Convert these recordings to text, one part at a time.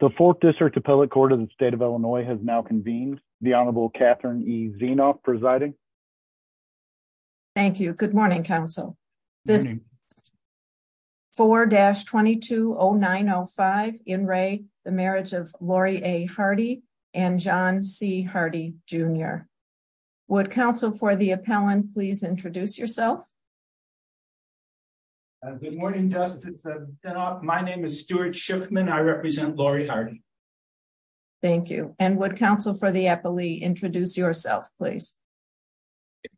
The 4th District Appellate Court of the State of Illinois has now convened, the Honorable Catherine E. Zienoff presiding. Thank you. Good morning, counsel. This is 4-220905, In Re, the marriage of Lori A. Hardy and John C. Hardy Jr. Would counsel for the appellant please introduce yourself? Good morning, Justice. My name is Stuart Schiffman. I represent Lori Hardy. Thank you. And would counsel for the appellee introduce yourself, please?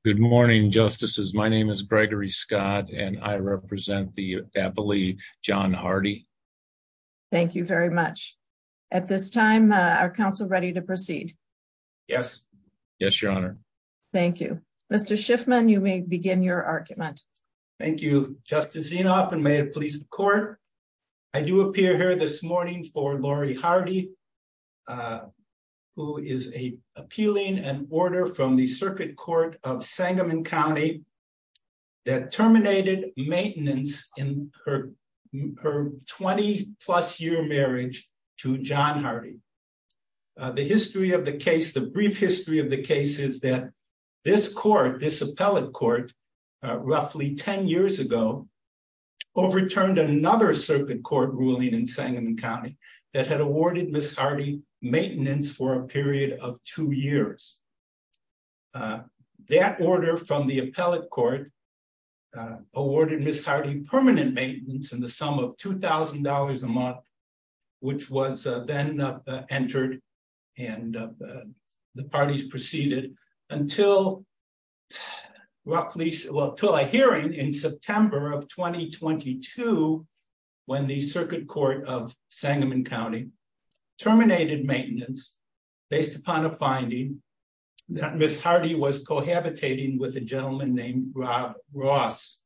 Good morning, Justices. My name is Gregory Scott and I represent the appellee, John Hardy. Thank you very much. At this time, are counsel ready to proceed? Yes. Yes, Your Honor. Thank you. Mr. Schiffman, you may begin your argument. Thank you. Good morning, Justice Zienoff, and may it please the court. I do appear here this morning for Lori Hardy, who is appealing an order from the Circuit Court of Sangamon County that terminated maintenance in her 20-plus year marriage to John Hardy. The history of the case, the brief history of the case is that this court, this appellate court roughly 10 years ago overturned another circuit court ruling in Sangamon County that had awarded Ms. Hardy maintenance for a period of two years. That order from the appellate court awarded Ms. Hardy permanent maintenance in the sum of $2,000 a month, which was then entered and the parties proceeded until a hearing in September of 2022 when the Circuit Court of Sangamon County terminated maintenance based upon a finding that Ms. Hardy was cohabitating with a gentleman named Rob Ross.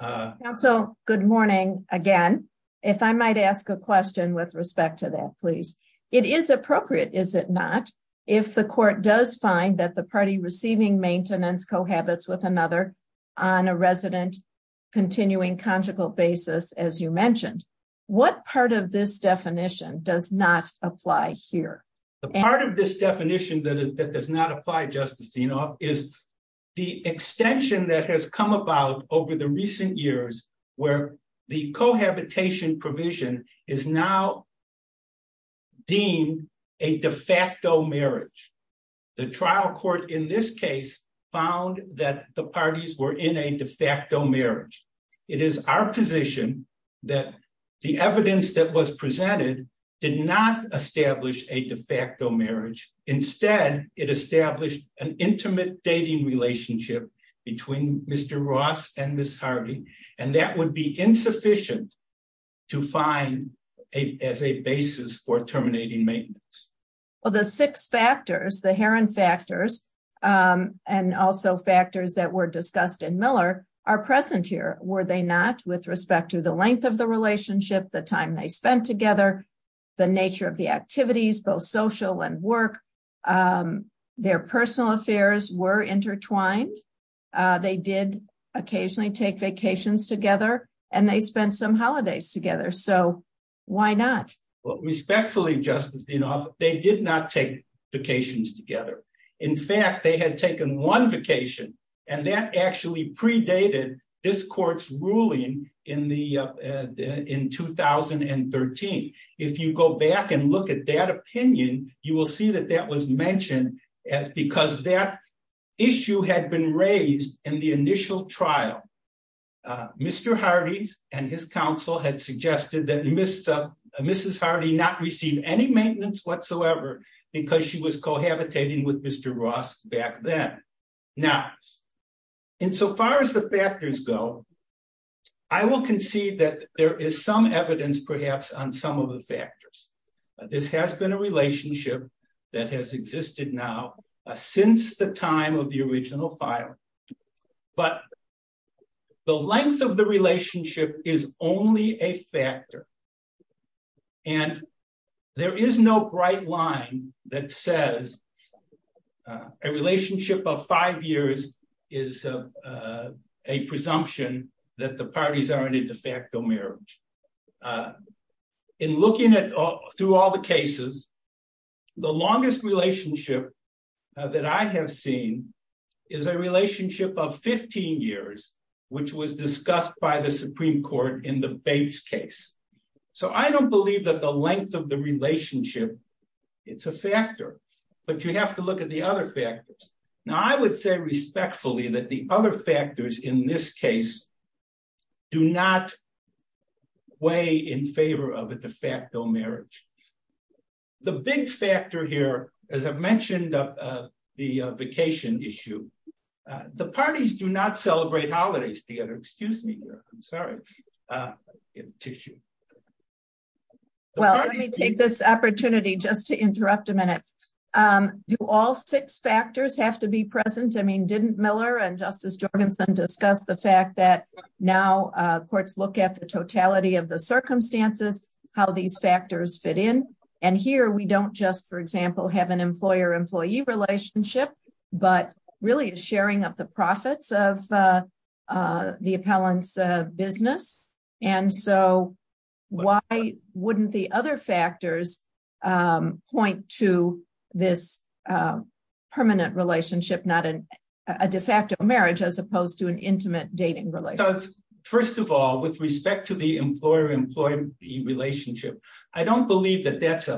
Counsel, good morning again. If I might ask a question with respect to that, please. It is appropriate, is it not, if the court does find that the party receiving maintenance cohabits with another on a resident continuing conjugal basis, as you mentioned, what part of this definition does not apply here? The part of this definition that does not apply, Justice Zienoff, is the extension that has come about over the recent years where the cohabitation provision is now deemed a de facto marriage. The trial court in this case found that the parties were in a de facto marriage. It is our position that the evidence that was presented did not establish a de facto marriage. Instead, it established an intimate dating relationship between Mr. Ross and Ms. Hardy, and that would be insufficient to find as a basis for terminating maintenance. The six factors, the Heron factors, and also factors that were discussed in Miller, are present here, were they not, with respect to the length of the relationship, the time they spent together, the nature of the activities, both social and work, their personal affairs were intertwined. They did occasionally take vacations together, and they spent some holidays together, so why not? Respectfully, Justice Zienoff, they did not take vacations together. In fact, they had taken one vacation, and that actually predated this court's ruling in 2013. If you go back and look at that opinion, you will see that that was mentioned because that issue had been raised in the initial trial. Mr. Hardy and his counsel had suggested that Mrs. Hardy not receive any maintenance whatsoever because she was cohabitating with Mr. Ross back then. Now, insofar as the factors go, I will concede that there is some evidence, perhaps, on some of the factors. This has been a relationship that has existed now since the time of the original file, but the length of the relationship is only a factor, and there is no bright line that says a relationship of five years is a presumption that the parties are in a de facto marriage. In looking through all the cases, the longest relationship that I have seen is a relationship of 15 years, which was discussed by the Supreme Court in the Bates case, so I don't believe that the length of the relationship, it's a factor, but you have to look at the other factors. Now, I would say respectfully that the other factors in this case do not weigh in favor of a de facto marriage. The big factor here, as I mentioned, the vacation issue, the parties do not celebrate holidays together. Excuse me. I'm sorry. Tissue. Well, let me take this opportunity just to interrupt a minute. Do all six factors have to be present? I mean, didn't Miller and Justice Jorgensen discuss the fact that now courts look at the totality of the circumstances, how these factors fit in, and here we don't just, for example, have an employer-employee relationship, but really sharing up the profits of the appellant's business, and so why wouldn't the other factors point to this permanent relationship, not a de facto marriage, as opposed to an intimate dating relationship? First of all, with respect to the employer-employee relationship, I don't believe that that's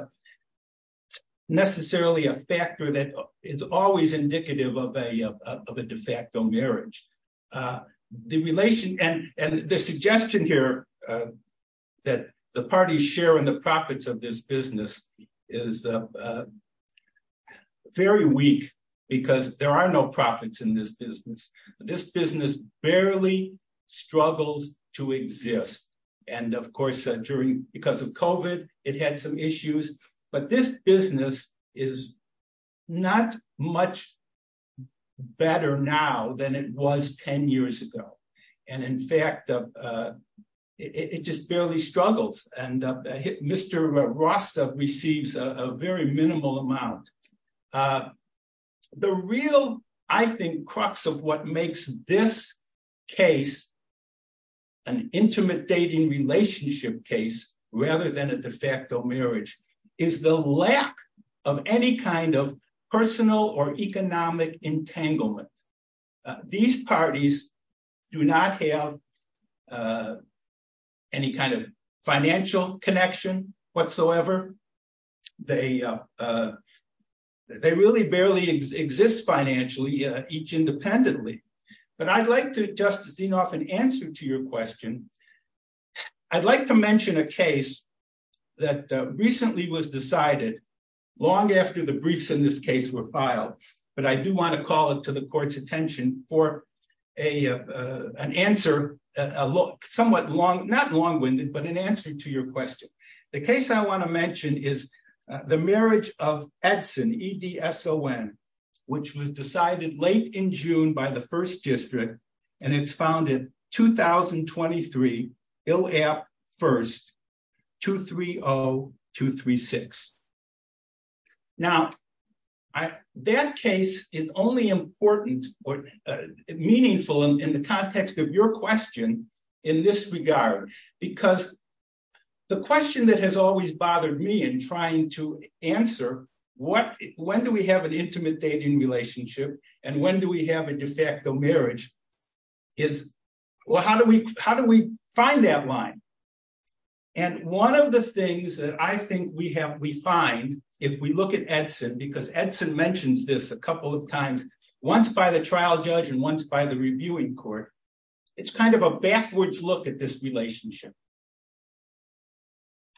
necessarily a factor that is always indicative of a de facto marriage. The relation, and the suggestion here that the parties share in the profits of this business is very weak, because there are no profits in this business. This business barely struggles to exist, and of course, because of COVID, it had some issues, but this business is not much better now than it was 10 years ago, and in fact, it just barely struggles, and Mr. Rasta receives a very minimal amount. The real, I think, crux of what makes this case an intimate dating relationship case, rather than a de facto marriage, is the lack of any kind of personal or economic entanglement. These parties do not have any kind of financial connection whatsoever. They really barely exist financially, each independently, but I'd like to, Justice Zinoff, in answer to your question, I'd like to mention a case that recently was decided long after the briefs in this case were filed, but I do want to call it to the court's attention for an answer, somewhat long, not long-winded, but an answer to your question. The case I want to mention is the marriage of Edson, E-D-S-O-N, which was decided late in June by the First District, and it's founded 2023, ILAP First, 230-236. Now, that case is only important, meaningful in the context of your question in this regard, because the question that has always bothered me in trying to answer, when do we have an intimate dating relationship, and when do we have a de facto marriage, is, well, how do we find that line? And one of the things that I think we find if we look at Edson, because Edson mentions this a couple of times, once by the trial judge and once by the reviewing court, it's kind of a backwards look at this relationship.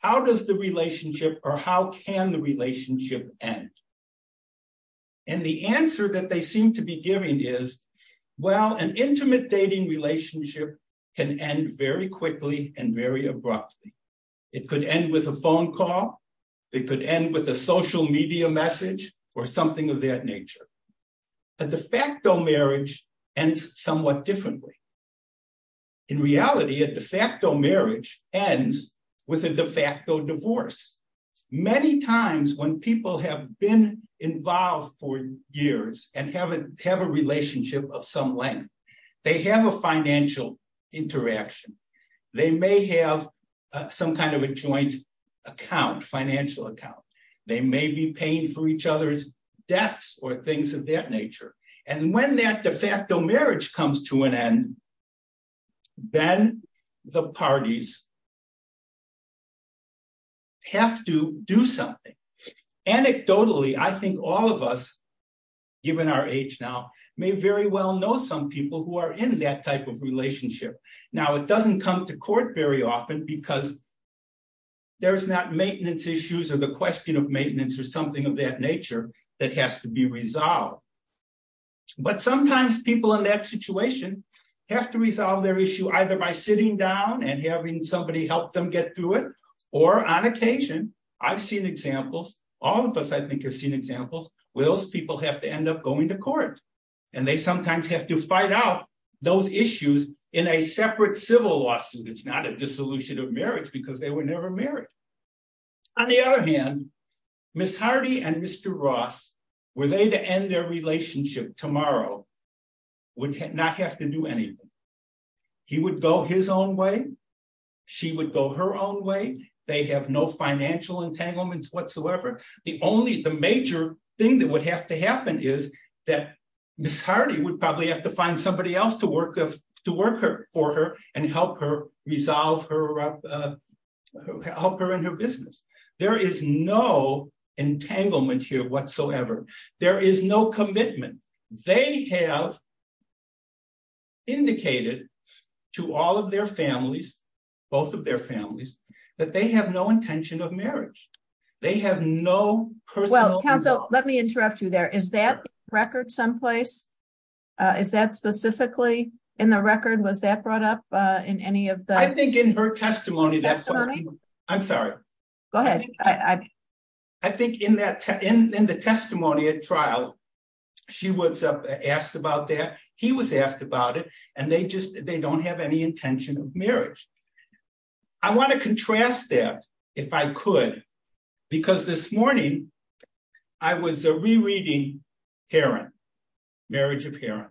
How does the relationship, or how can the relationship end? And the answer that they seem to be giving is, well, an intimate dating relationship can end very quickly and very abruptly. It could end with a phone call, it could end with a social media message, or something of that nature. A de facto marriage ends somewhat differently. In reality, a de facto marriage ends with a de facto divorce. Many times when people have been involved for years and have a relationship of some length, they have a financial interaction. They may have some kind of a joint account, financial account. They may be paying for each other's debts or things of that nature. And when that de facto marriage comes to an end, then the parties have to do something. Anecdotally, I think all of us, given our age now, may very well know some people who are in that type of relationship. Now, it doesn't come to court very often because there's not maintenance issues or the question of maintenance or something of that nature that has to be resolved. But sometimes people in that issue either by sitting down and having somebody help them get through it, or on occasion, I've seen examples, all of us I think have seen examples, where those people have to end up going to court. And they sometimes have to fight out those issues in a separate civil lawsuit. It's not a dissolution of marriage because they were never married. On the other hand, Ms. Hardy and he would go his own way. She would go her own way. They have no financial entanglements whatsoever. The only, the major thing that would have to happen is that Ms. Hardy would probably have to find somebody else to work for her and help her resolve her, help her in her business. There is no entanglement here whatsoever. There is no commitment. They have indicated to all of their families, both of their families, that they have no intention of marriage. They have no personal... Well, counsel, let me interrupt you there. Is that record someplace? Is that specifically in the record? Was that brought up in any of the... I think in her I think in the testimony at trial, she was asked about that. He was asked about it. And they just, they don't have any intention of marriage. I want to contrast that if I could, because this morning I was rereading Heron, Marriage of Heron,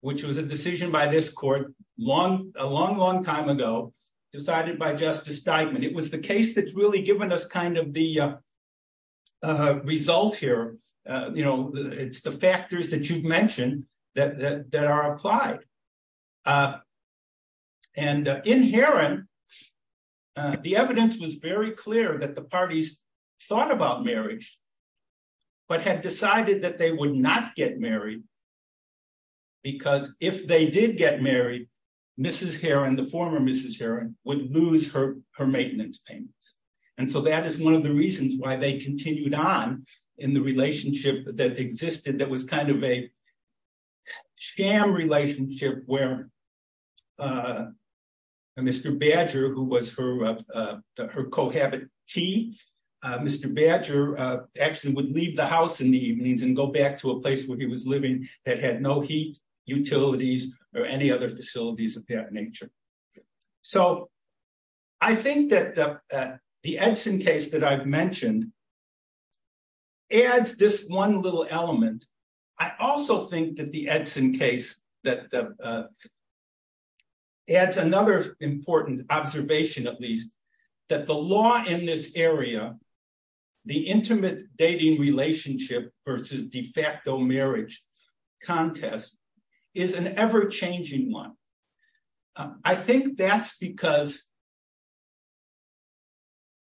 which was a decision by this court a long, long time ago, decided by Justice Steigman. It was the case that's really given us kind of the result here. It's the factors that you've mentioned that are applied. And in Heron, the evidence was very clear that the parties thought about marriage, but had decided that they would not get married. Because if they did get married, Mrs. Heron, the former Mrs. Heron, would lose her maintenance payments. And so that is one of the reasons why they continued on in the relationship that existed that was kind of a sham relationship where Mr. Badger, who was her cohabitant, Mr. Badger actually would leave the house in the evenings and go back to a place where he was living that had no heat, utilities, or any other facilities of that nature. So I think that the Edson case that I've mentioned adds this one little element. I also think that the Edson case adds another important observation, at least, that the law in this area, the intimate dating relationship versus de facto marriage contest, is an ever changing one. I think that's because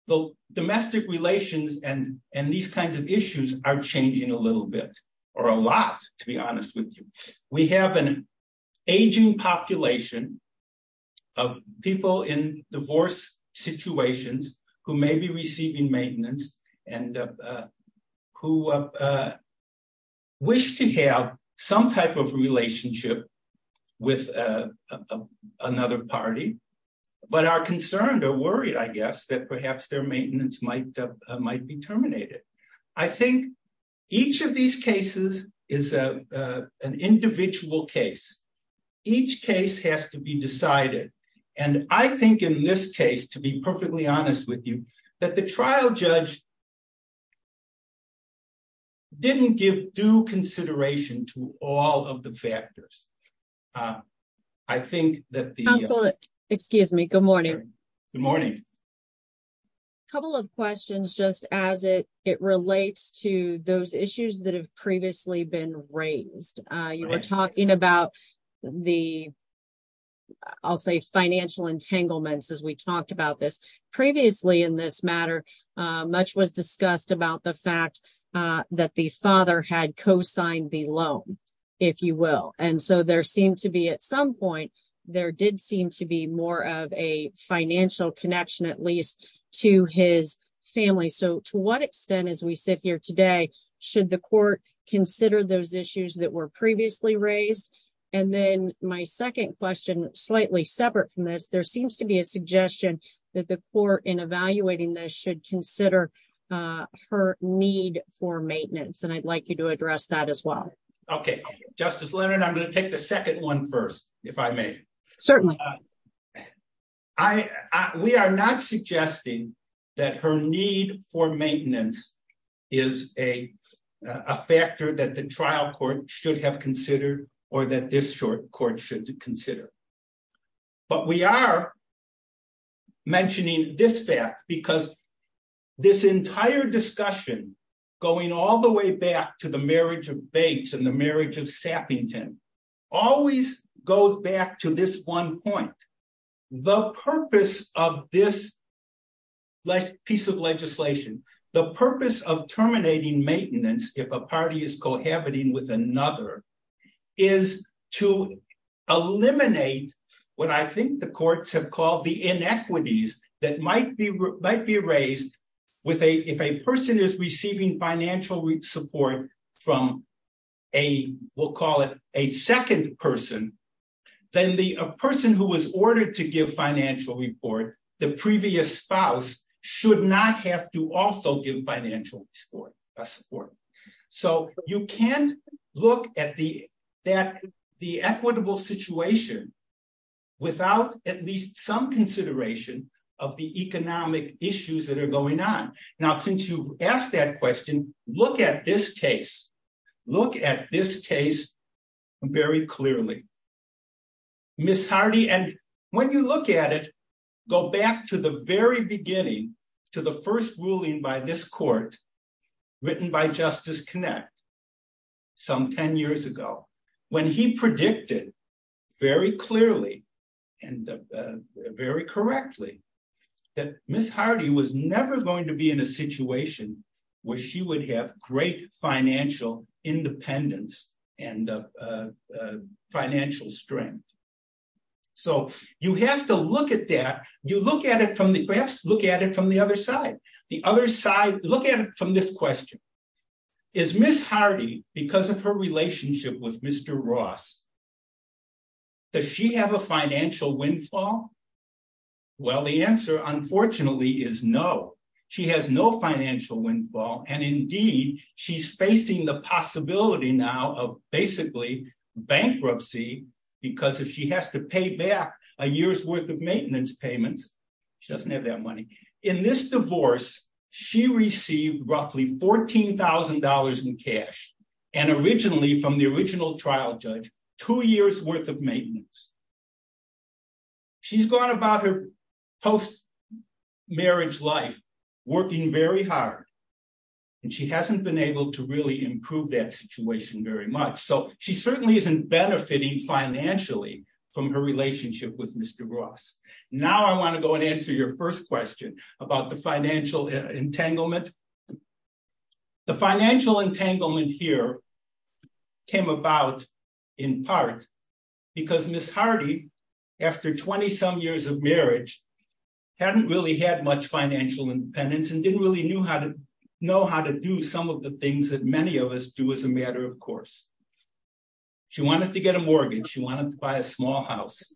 the domestic relations and these kinds of issues are changing a little bit, or a lot, to be honest with you. We have an aging population of people in divorce situations who may be receiving maintenance and who wish to have some type of relationship with another party, but are concerned or worried, I guess, that perhaps their maintenance might be terminated. I think each of these cases is an individual case. Each case has to be decided. And I think in this case, to be perfectly honest with you, that the I think that the... Absolutely. Excuse me. Good morning. Good morning. A couple of questions, just as it relates to those issues that have previously been raised. You were talking about the, I'll say, financial entanglements as we talked about this. Previously in this matter, much was discussed about the fact that the father had co-signed the loan, if you will, and so there seemed to be, at some point, there did seem to be more of a financial connection, at least to his family. So to what extent, as we sit here today, should the court consider those issues that were previously raised? And then my second question, slightly separate from this, there seems to be a suggestion that the court, in evaluating this, should consider her need for maintenance. And I'd like you to address that as well. Okay. Justice Leonard, I'm going to take the second one first, if I may. Certainly. We are not suggesting that her need for maintenance is a factor that the trial court should have considered or that this short court should consider. But we are mentioning this fact because this entire discussion, going all the way back to the marriage of Bates and the marriage of Sappington, always goes back to this one point. The purpose of this piece of legislation, the purpose of terminating maintenance, if a party is cohabiting with another, is to eliminate what I think the courts have called the inequities that might be raised with a, if a person is receiving financial support from a, we'll call it a second person, then the person who was ordered to give financial report, the previous spouse, should not have to also give financial support. So you can't look at the equitable situation without at least some consideration of the economic issues that are going on. Now, since you've asked that question, look at this case, look at this case very clearly. Ms. Hardy, and when you look at it, go back to the very beginning, to the first ruling by this court written by Justice Kinect some 10 years ago, when he predicted very clearly and very correctly that Ms. Hardy was never going to be in a situation where she would have great financial independence and financial strength. So you have to look at that. You look at it from the, perhaps look at it from the other side. The other side, look at it from this question. Is Ms. Hardy, because of her relationship with Mr. Ross, does she have a financial windfall? Well, the answer, unfortunately, is no. She has no financial windfall. And indeed, she's facing the possibility now of basically bankruptcy, because if she has to pay back a year's worth of maintenance payments, she doesn't have that money. In this divorce, she received roughly $14,000 in cash. And originally, from the original trial judge, two years worth of maintenance. She's gone about her post-marriage life working very hard. And she hasn't been able to really improve that situation very much. So she certainly isn't benefiting financially from her relationship with Mr. Ross. Now I want to go and answer your first question about the financial entanglement. The financial entanglement here came about in part because Ms. Hardy, after 20-some years of marriage, hadn't really had much financial independence and didn't really know how to do some of the things that many of us do as a matter of course. She wanted to get a mortgage. She wanted to buy a small house.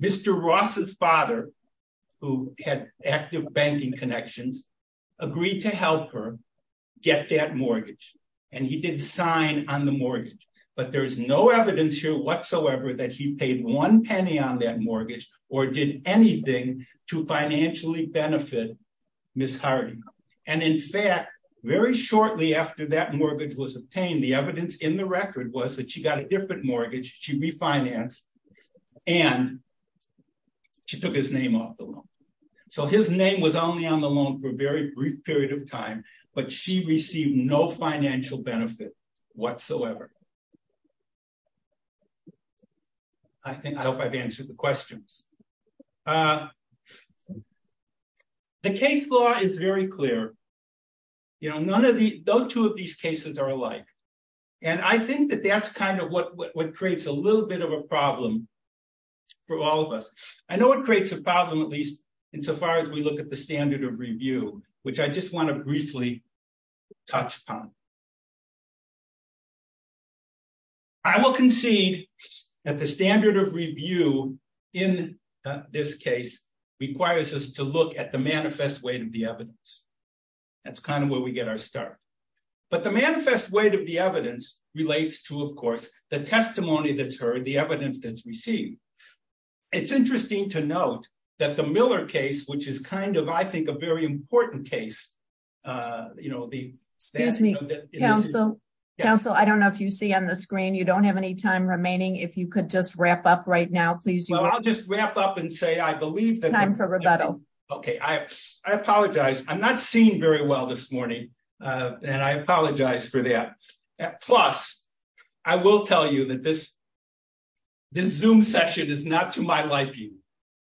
Mr. Ross's father, who had active banking connections, agreed to help her get that mortgage. And he did sign on the mortgage. But there's no evidence here whatsoever that he paid one penny on that mortgage or did anything to financially benefit Ms. Hardy. And in fact, very shortly after that mortgage was obtained, the evidence in the record was that she got a different mortgage. She refinanced. And she took his name off the loan. So his name was only on the loan for a very brief period of time. But she received no financial benefit whatsoever. I think I hope I've answered the questions. The case law is very clear. No two of these cases are alike. And I think that that's kind of what creates a little bit of a problem for all of us. I know it creates a problem, at least insofar as we look at the standard of review, which I just want to briefly touch upon. I will concede that the standard of review in this case requires us to look at the manifest weight of the evidence. That's kind of where we get our start. But the manifest weight of the evidence relates to, of course, the testimony that's heard, the evidence that's received. It's interesting to note that the Miller case, which is kind of, I think, a very important case, you know, excuse me, counsel, counsel, I don't know if you see on the screen, you don't have any time remaining. If you could just wrap up right now, please. Well, I'll just wrap up and say I believe that I'm for rebuttal. Okay, I apologize. I'm not seeing very well this morning. And I apologize for that. Plus, I will tell you that this this zoom session is not to my liking.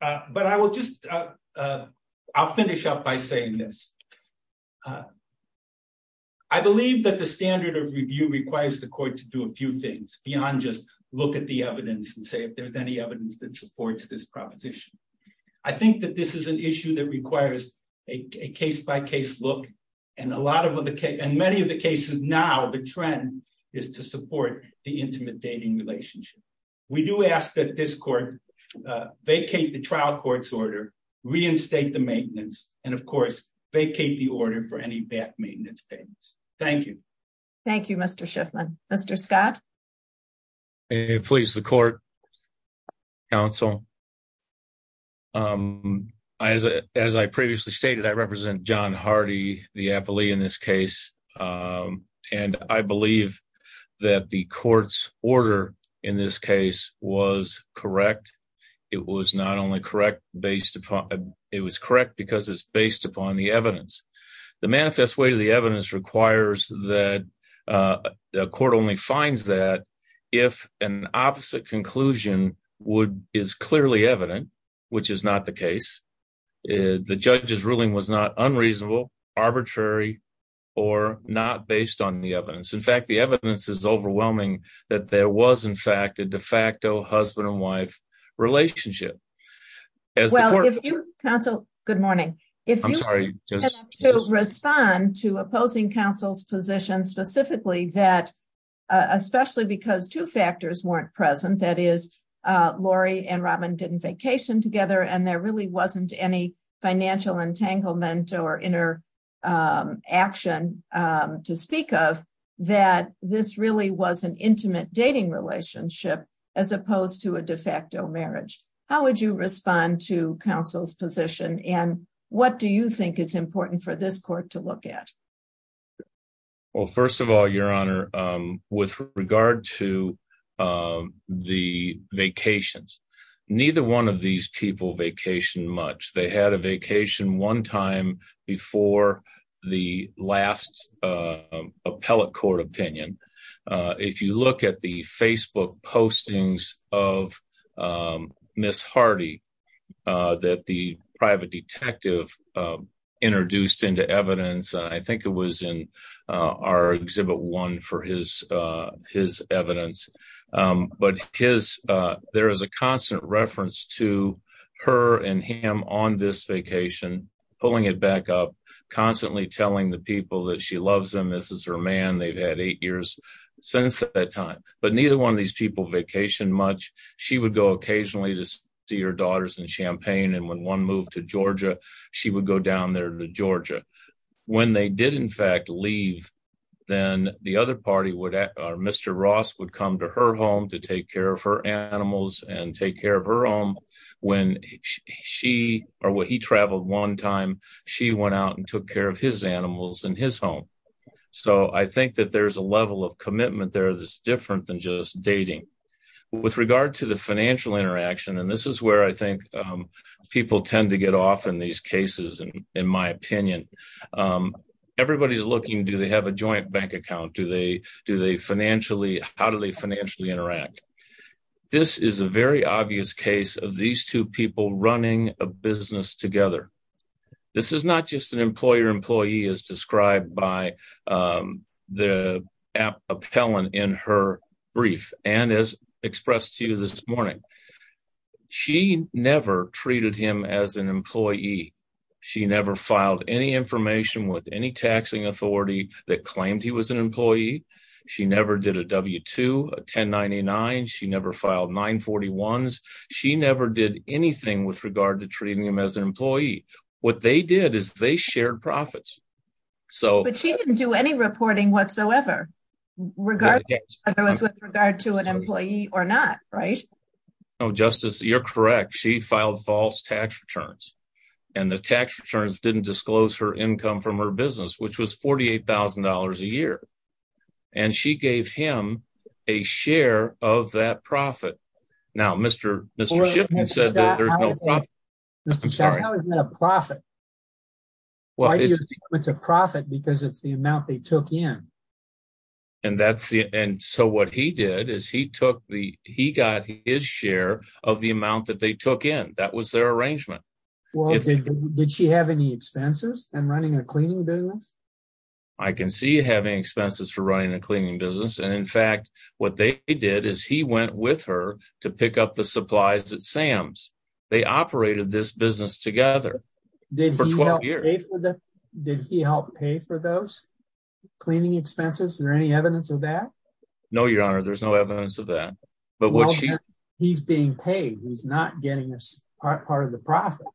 But I will just I'll finish up by saying this. I believe that the standard of review requires the court to do a few things beyond just look at the evidence and say if there's any evidence that supports this proposition. I think that this is an issue that requires a case by case look. And a lot of the case and many of the cases now the trend is to support the intimate dating relationship. We do ask that this vacate the trial court's order, reinstate the maintenance and of course, vacate the order for any back maintenance payments. Thank you. Thank you, Mr. Shiffman. Mr. Scott. Please the court counsel. As I previously stated, I represent John Hardy, the appellee in this case. And I believe that the court's order in this case was correct. It was not only correct based upon it was correct because it's based upon the evidence. The manifest way to the evidence requires that the court only finds that if an opposite conclusion would is clearly evident, which is not the case. The judge's ruling was not unreasonable, arbitrary, or not based on the evidence. In fact, the evidence is overwhelming that there was in fact a de facto husband and wife relationship. Good morning. If you respond to opposing counsel's position specifically that especially because two factors weren't present, that is, Lori and Robin didn't vacation together and there really wasn't any financial entanglement or inner action to speak of, that this really was an intimate dating relationship, as opposed to a de facto marriage. How would you respond to counsel's position? And what do you think is regard to the vacations? Neither one of these people vacation much. They had a vacation one time before the last appellate court opinion. If you look at the Facebook postings of Miss Hardy that the private detective introduced into evidence, I think it was in our Exhibit 1 for his evidence. There is a constant reference to her and him on this vacation, pulling it back up, constantly telling the people that she loves them, this is her man, they've had eight years since that time. But neither one of these people vacation much. She would go occasionally to see her daughters in Champaign, and when one moved to Georgia, she would go down there to Georgia. When they did in fact leave, then the other party, Mr. Ross, would come to her home to take care of her animals and take care of her own. When he traveled one time, she went out and took care of his animals in his home. So I think that there's a level of commitment there that's different than just dating. With regard to the financial interaction, and this is where I think people tend to get off in cases, in my opinion, everybody's looking, do they have a joint bank account? How do they financially interact? This is a very obvious case of these two people running a business together. This is not just an employer-employee as described by the appellant in her brief, and as expressed to you this morning. She never treated him as an employee. She never filed any information with any taxing authority that claimed he was an employee. She never did a W-2, a 1099. She never filed 941s. She never did anything with regard to treating him as an employee. What they did is they shared profits. But she didn't do any reporting whatsoever, regardless of whether it was with regard to an employee or not, right? No, Justice, you're correct. She filed false tax returns, and the tax returns didn't disclose her income from her business, which was $48,000 a year. And she gave him a share of that profit. Now, Mr. Shiffman said that there's no profit. Mr. Shiffman, how is that a profit? Why do you think it's a profit? Because it's the amount they took in. And so what he did is he got his share of the amount that they took in. That was their arrangement. Well, did she have any expenses in running a cleaning business? I can see having expenses for running a cleaning business. And in fact, what they did is he went with her to pick up the supplies at Sam's. They operated this business together for 12 years. Did he help pay for those cleaning expenses? Is there any evidence of that? No, Your Honor, there's no evidence of that. But he's being paid. He's not getting part of the profit.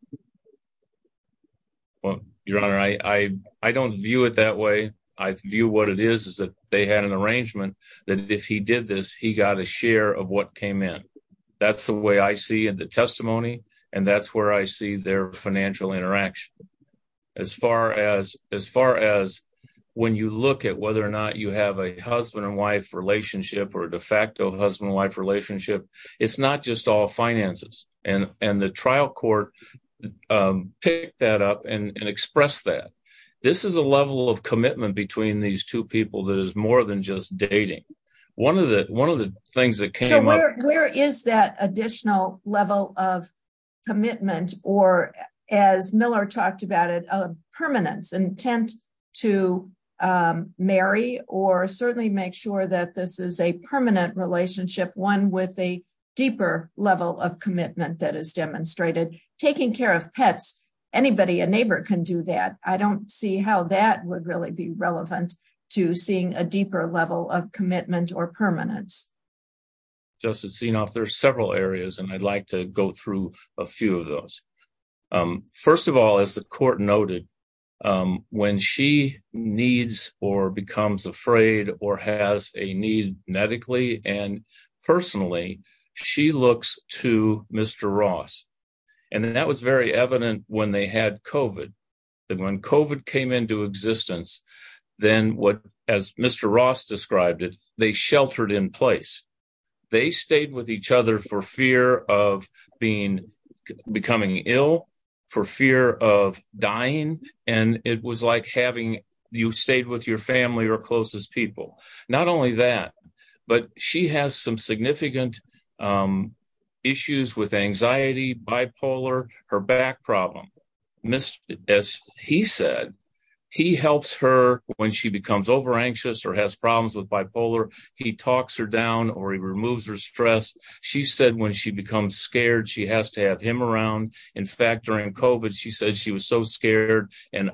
Well, Your Honor, I don't view it that way. I view what it is is that they had an arrangement that if he did this, he got a share of what came in. That's the way I see in the testimony. And that's where I see their financial interaction. As far as when you look at whether or not you have a husband and wife relationship or a de facto husband and wife relationship, it's not just all finances. And the trial court picked that up and expressed that. This is a level of commitment between these two people that is more than just dating. One of the things that came up... So where is that additional level of commitment? As Miller talked about it, a permanence, intent to marry or certainly make sure that this is a permanent relationship, one with a deeper level of commitment that is demonstrated. Taking care of pets, anybody, a neighbor can do that. I don't see how that would really be relevant to seeing a deeper level of commitment or permanence. Justice Zinoff, there are several areas and I'd like to go through a few of those. First of all, as the court noted, when she needs or becomes afraid or has a need medically and personally, she looks to Mr. Ross. And that was very evident when they had COVID. Then when COVID came into existence, then what, as Mr. Ross described it, they sheltered in place. They stayed with each other for fear of becoming ill, for fear of dying. And it was like having you stayed with your family or closest people. Not only that, but she has some significant issues with anxiety, bipolar, her back problem. As he said, he helps her when she becomes over removes her stress. She said when she becomes scared, she has to have him around. In fact, during COVID, she said she was so scared and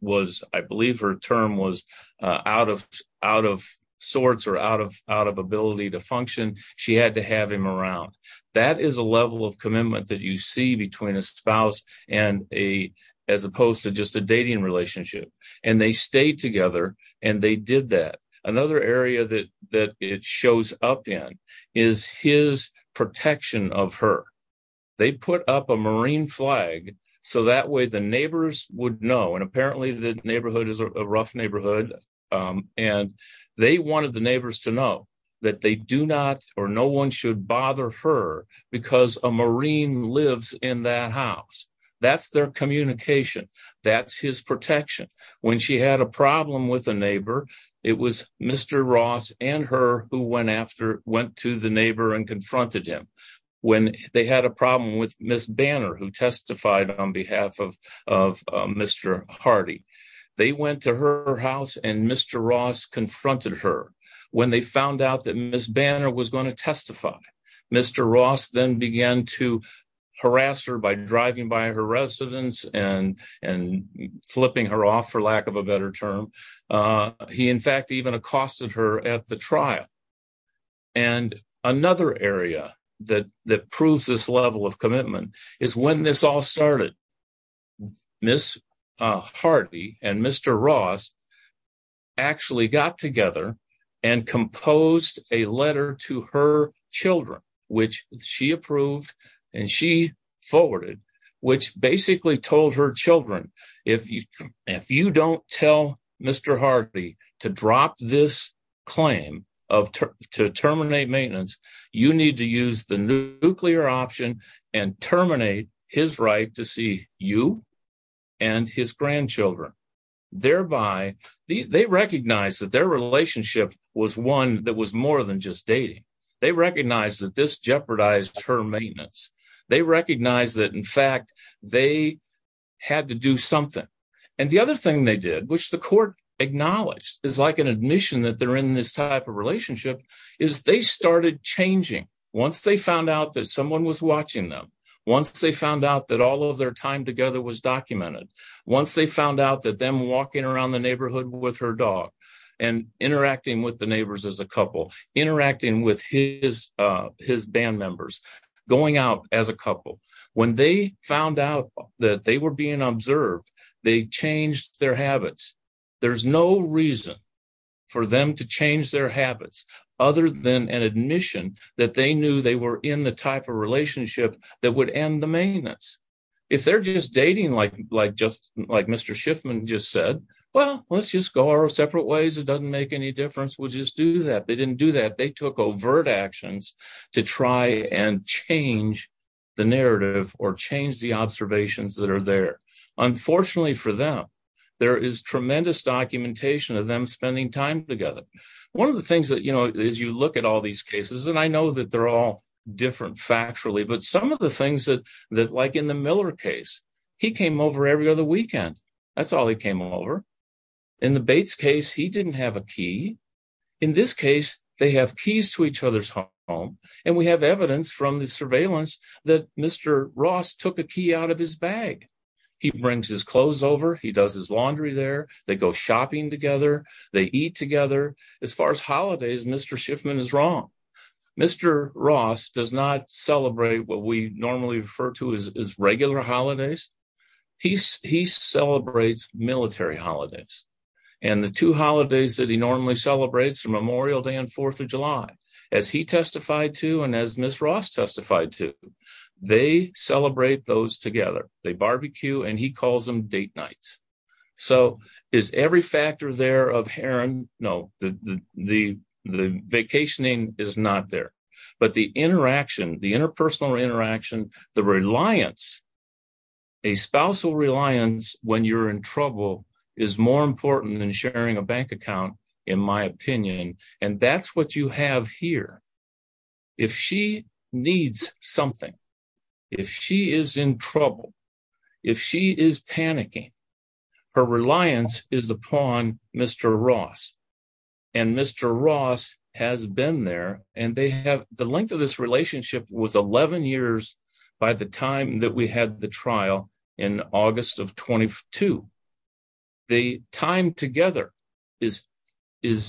was, I believe her term was out of sorts or out of ability to function. She had to have him around. That is a level of commitment that you see between a spouse and a, as opposed to just a dating relationship. And they stayed together and they did that. Another area that, that it shows up in is his protection of her. They put up a Marine flag. So that way the neighbors would know. And apparently the neighborhood is a rough neighborhood. And they wanted the neighbors to know that they do not, or no one should bother her because a Marine lives in that house. That's their communication. That's his protection. When she had a problem with a neighbor, it was Mr. Ross and her who went after, went to the neighbor and confronted him. When they had a problem with Ms. Banner, who testified on behalf of, of Mr. Hardy, they went to her house and Mr. Ross confronted her. When they found out that Ms. Banner was going to testify, Mr. Ross then began to harass her by driving by her residence and, and flipping her off for lack of a better term. He, in fact, even accosted her at the trial. And another area that, that proves this level of commitment is when this all started. Ms. Hardy and Mr. Ross actually got together and composed a letter to her children, which she approved and she forwarded, which basically told her children, if you, if you don't tell Mr. Hardy to drop this claim of, to terminate maintenance, you need to use the nuclear option and terminate his right to see you and his grandchildren. Thereby, they recognized that relationship was one that was more than just dating. They recognized that this jeopardized her maintenance. They recognized that in fact, they had to do something. And the other thing they did, which the court acknowledged is like an admission that they're in this type of relationship is they started changing. Once they found out that someone was watching them, once they found out that all of their time together was documented, once they found out that them walking around the interacting with the neighbors as a couple, interacting with his, uh, his band members, going out as a couple, when they found out that they were being observed, they changed their habits. There's no reason for them to change their habits other than an admission that they knew they were in the type of relationship that would end the maintenance. If they're just dating, like, just like Mr. Schiffman just said, well, let's just go our separate ways. It doesn't make any difference. We'll just do that. They didn't do that. They took overt actions to try and change the narrative or change the observations that are there. Unfortunately for them, there is tremendous documentation of them spending time together. One of the things that, you know, as you look at all these cases, and I know that they're all different factually, but some of the weekend, that's all he came over. In the Bates case, he didn't have a key. In this case, they have keys to each other's home. And we have evidence from the surveillance that Mr. Ross took a key out of his bag. He brings his clothes over. He does his laundry there. They go shopping together. They eat together. As far as holidays, Mr. Schiffman is wrong. Mr. Ross does not celebrate what we normally refer to as regular holidays. He celebrates military holidays. And the two holidays that he normally celebrates, Memorial Day and 4th of July, as he testified to and as Ms. Ross testified to, they celebrate those together. They barbecue and he calls them date nights. So is every factor there of Heron? No, the vacationing is not there. But the interaction, the interpersonal interaction, the reliance, a spousal reliance when you're in trouble is more important than sharing a bank account, in my opinion. And that's what you have here. If she needs something, if she is in trouble, if she is panicking, her reliance is upon Mr. Ross. And Mr. Ross has been there. And they have the length of this relationship was 11 years by the time that we had the trial in August of 22. The time together is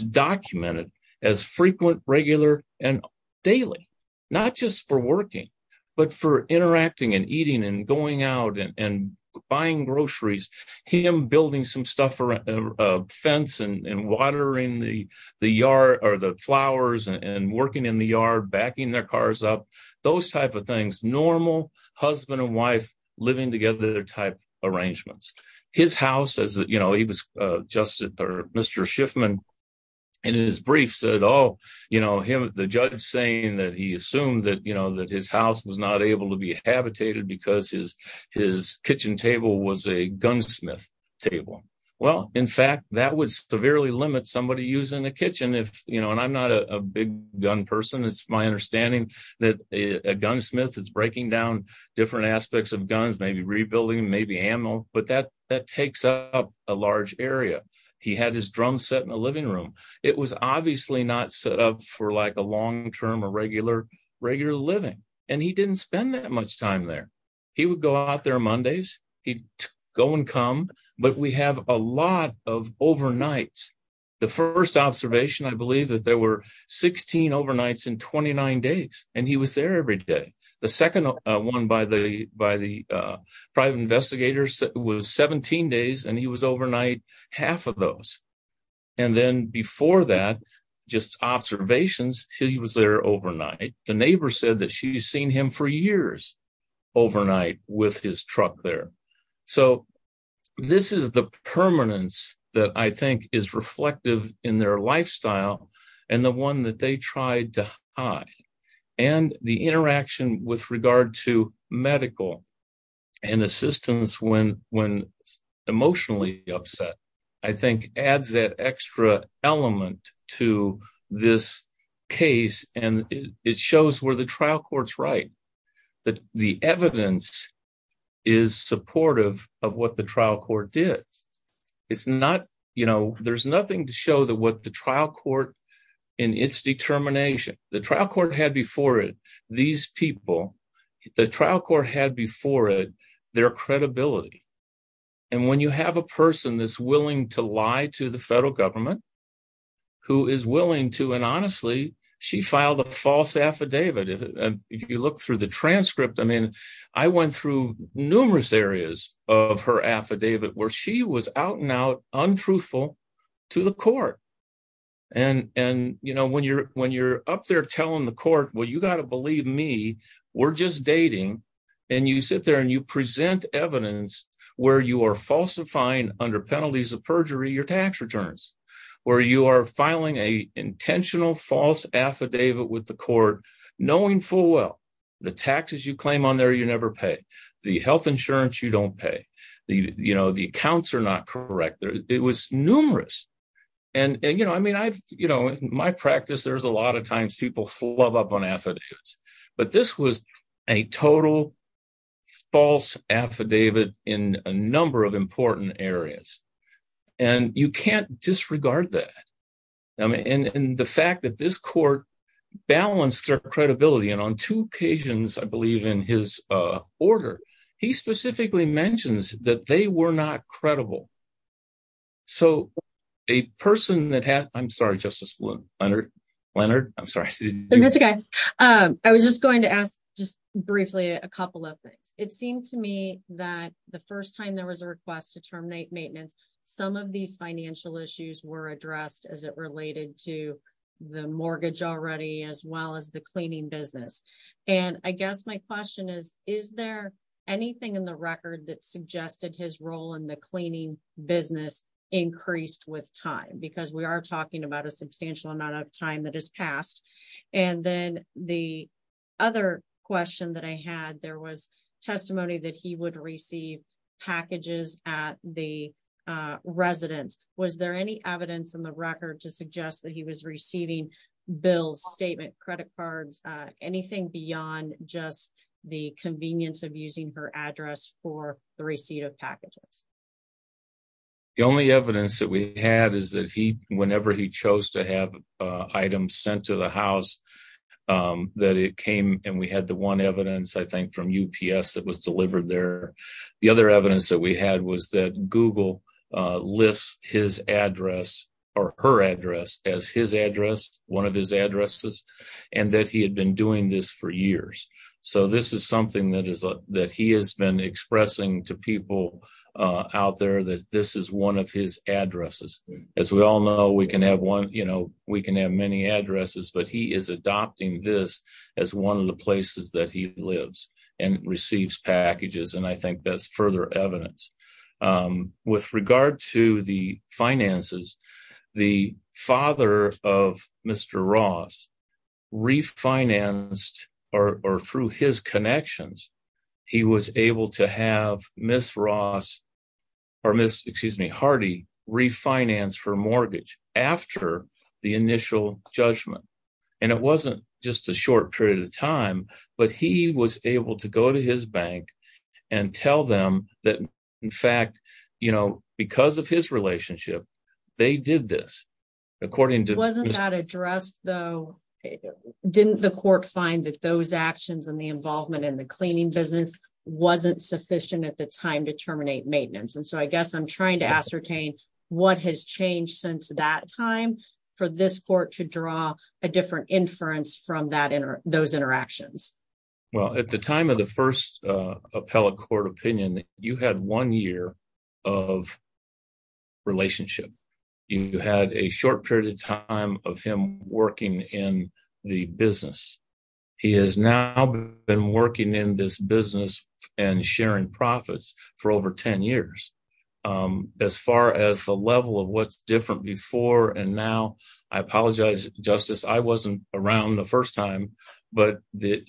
documented as frequent, regular and daily, not just for working, but for interacting and eating and going out and buying groceries, him building some stuff around a fence and watering the yard or the flowers and working in the yard, backing their cars up, those type of things, normal husband and wife living together type arrangements. His house as you know, he was just Mr. Schiffman in his brief said, Oh, you know, him, the judge saying that he assumed that, you know, that his house was not able to be habitated because his kitchen table was a gunsmith table. Well, in fact, that would severely limit somebody using a kitchen if you know, and I'm not a big gun person. It's my understanding that a gunsmith is breaking down different aspects of guns, maybe rebuilding, maybe ammo, but that that takes up a large area. He had his drum set in the living room. It was obviously not set up for like a long term or regular, regular living. And he didn't spend that much time there. He would go out there Mondays, he'd go and come. But we have a lot of overnights. The first observation, I believe that there were 16 overnights in 29 days, and he was there every day. The second one by the by the private investigators was 17 days and he was overnight half of those. And then before that, just observations, he was there overnight, the neighbor said that she's seen him for years, overnight with his truck there. So this is the permanence that I think is reflective in their lifestyle, and the one that they tried to and assistance when when emotionally upset, I think adds that extra element to this case, and it shows where the trial courts right, that the evidence is supportive of what the trial court did. It's not, you know, there's nothing to show that what the trial court in its determination, the trial court had before it, these people, the trial court had before it, their credibility. And when you have a person that's willing to lie to the federal government, who is willing to and honestly, she filed a false affidavit. If you look through the transcript, I mean, I went through numerous areas of her affidavit where she was out now untruthful to the court. And and you know, when you're when you're up there telling the court, well, you got to believe me, we're just dating. And you sit there and you present evidence where you are falsifying under penalties of perjury, your tax returns, where you are filing a intentional false affidavit with the court, knowing full well, the taxes you claim on there, you never pay the health insurance, you don't pay the, you know, the accounts are not correct. It was numerous. And, you know, I mean, I've, you know, my practice, there's a lot of times people flub up on affidavits. But this was a total false affidavit in a number of important areas. And you can't disregard that. And the fact that this court balanced their credibility, and on two occasions, I believe, in his order, he specifically mentions that they were not credible. So a person that has I'm sorry, Justice, Leonard, Leonard, I'm sorry. I was just going to ask just briefly a couple of things. It seemed to me that the first time there was a request to terminate maintenance, some of these financial issues were addressed as it related to the mortgage already, as well as the cleaning business. And I guess my question is, is there anything in the record that suggested his role in the cleaning business increased with time? Because we are talking about a substantial amount of time that has passed. And then the other question that I had, there was testimony that he would receive packages at the residence. Was there any evidence in the record to suggest that he was receiving bills, statement credit cards, anything beyond just the convenience of using her address for the receipt of packages? The only evidence that we had is that he whenever he chose to have items sent to the house, that it came and we had the one evidence I think from UPS that was delivered there. The other evidence that we had was that Google lists his address or her address as his address, one of his addresses, and that he had been doing this for years. So this is something that he has been expressing to people out there that this is one of his addresses. As we all know, we can have one, you know, we can have many addresses, but he is adopting this as one of the places that he lives and receives packages. And I think that's further evidence. With regard to the finances, the father of Mr. Ross refinanced or through his connections, he was able to have Ms. Hardy refinance for mortgage after the initial judgment. And it wasn't just a short period of time, but he was able to go to his bank and tell them that in fact, you know, because of his relationship, they did this. Wasn't that addressed though, didn't the court find that those actions and the involvement in the cleaning business wasn't sufficient at the time to terminate maintenance? And so I guess I'm trying to ascertain what has changed since that time for this court to draw a different inference from those interactions. Well, at the time of the first appellate court opinion, you had one year of relationship. You had a short period of time of him working in the business. He has now been working in this business and sharing profits for over 10 years. As far as the level of what's before and now, I apologize, Justice, I wasn't around the first time, but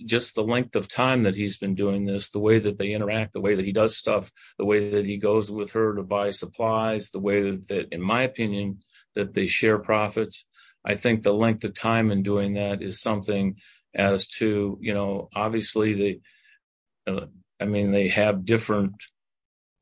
just the length of time that he's been doing this, the way that they interact, the way that he does stuff, the way that he goes with her to buy supplies, the way that in my opinion, that they share profits. I think the length of time in doing that is something as to, you know, obviously they, I mean, they have different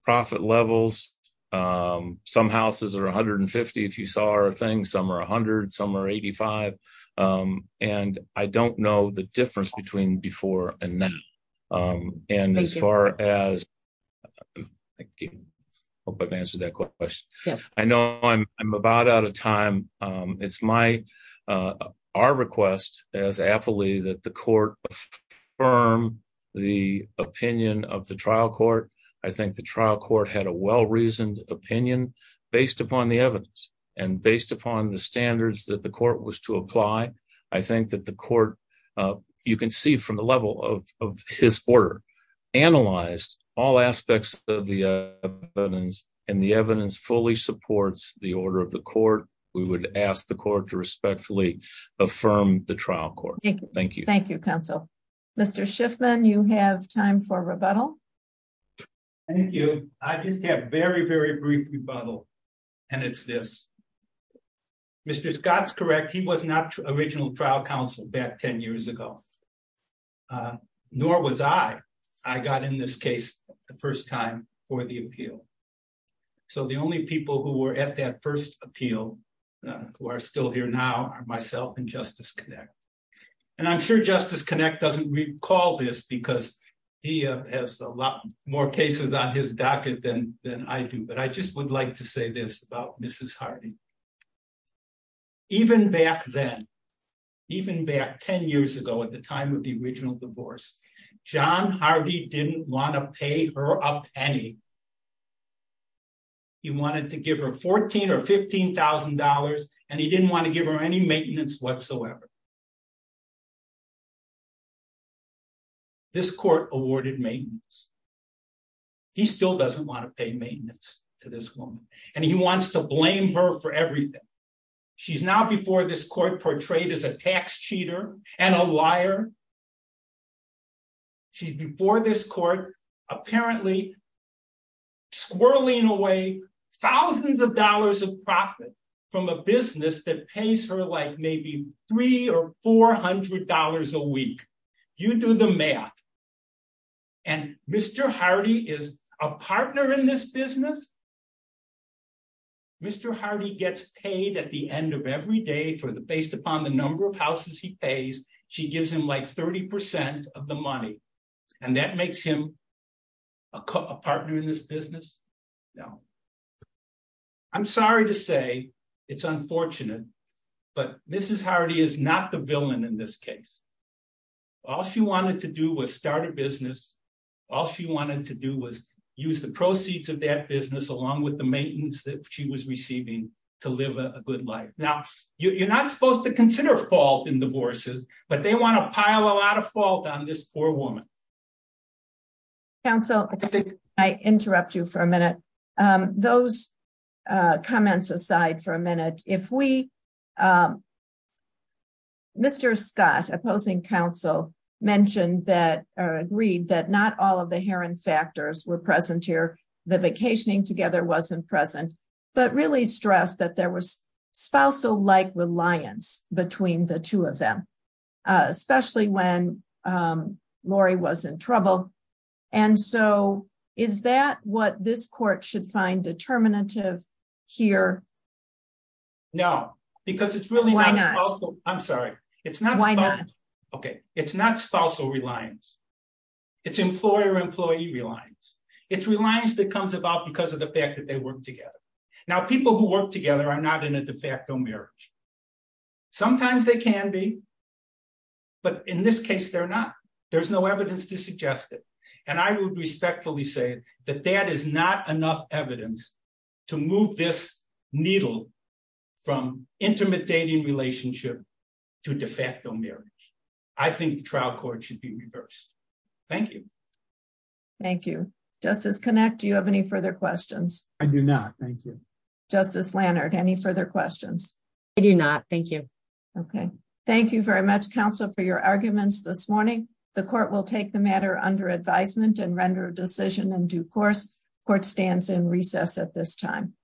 profit levels. Some houses are 150. If you saw our thing, some are a hundred, some are 85. And I don't know the difference between before and now. And as far as, I hope I've answered that question. I know I'm about out of time. It's my, our request as appellee that the court affirm the opinion of the trial court. I think the trial court had a well-reasoned opinion based upon the evidence and based upon the standards that the court was to apply. I think that the court, you can see from the level of his order, analyzed all aspects of the evidence and the evidence fully supports the order of the court. We would ask the court to respectfully affirm the trial court. Thank you. Thank you, counsel. Mr. Schiffman, you have time for rebuttal. Thank you. I just have very, very brief rebuttal, and it's this. Mr. Scott's correct. He was not original trial counsel back 10 years ago, nor was I. I got in this case the first time for the appeal. So the only people who were at that appeal who are still here now are myself and Justice Connick. And I'm sure Justice Connick doesn't recall this because he has a lot more cases on his docket than I do, but I just would like to say this about Mrs. Hardy. Even back then, even back 10 years ago at the time of the original divorce, John Hardy didn't want to pay her a penny. He wanted to give her $14,000 or $15,000, and he didn't want to give her any maintenance whatsoever. This court awarded maintenance. He still doesn't want to pay maintenance to this woman, and he wants to blame her for everything. She's now before this court portrayed as a tax cheater and a liar. She's before this court apparently squirreling away thousands of dollars of profit from a business that pays her like maybe $300 or $400 a week. You do the math, and Mr. Hardy is a partner in this business. Mr. Hardy gets paid at the end of every day based upon the number of houses he pays. She gives him like 30 percent of the money, and that makes him a partner in this business? No. I'm sorry to say it's unfortunate, but Mrs. Hardy is not the villain in this case. All she wanted to do was start a business. All she wanted to do was use the proceeds of that business along with the maintenance that she was receiving to live a good life. Now, you're not supposed to consider fault in divorces, but they want to pile a lot of fault on this poor woman. Counsel, excuse me. I interrupt you for a minute. Those comments aside for a minute. Mr. Scott, opposing counsel, agreed that not all of the Heron factors were present here. The vacationing together wasn't present, but really stressed that there was spousal-like reliance between the two of them, especially when Laurie was in trouble. Is that what this court should find determinative here? No, because it's really not spousal. I'm sorry. It's not spousal reliance. It's employer-employee reliance. It's reliance that comes about because of the fact that they work together. Now, people who work together are not in a de facto marriage. Sometimes they can be, but in this case, they're not. There's no evidence to suggest it. I would respectfully say that that is not enough evidence to move this needle from intimate dating relationship to de facto marriage. I think the trial court should be reversed. Thank you. Thank you. Justice Connacht, do you have any further questions? I do not. Thank you. Justice Lannert, any further questions? I do not. Thank you. Okay. Thank you very much, counsel, for your arguments this morning. The court will take the matter under advisement and render a decision in due course. Court stands in recess at this time.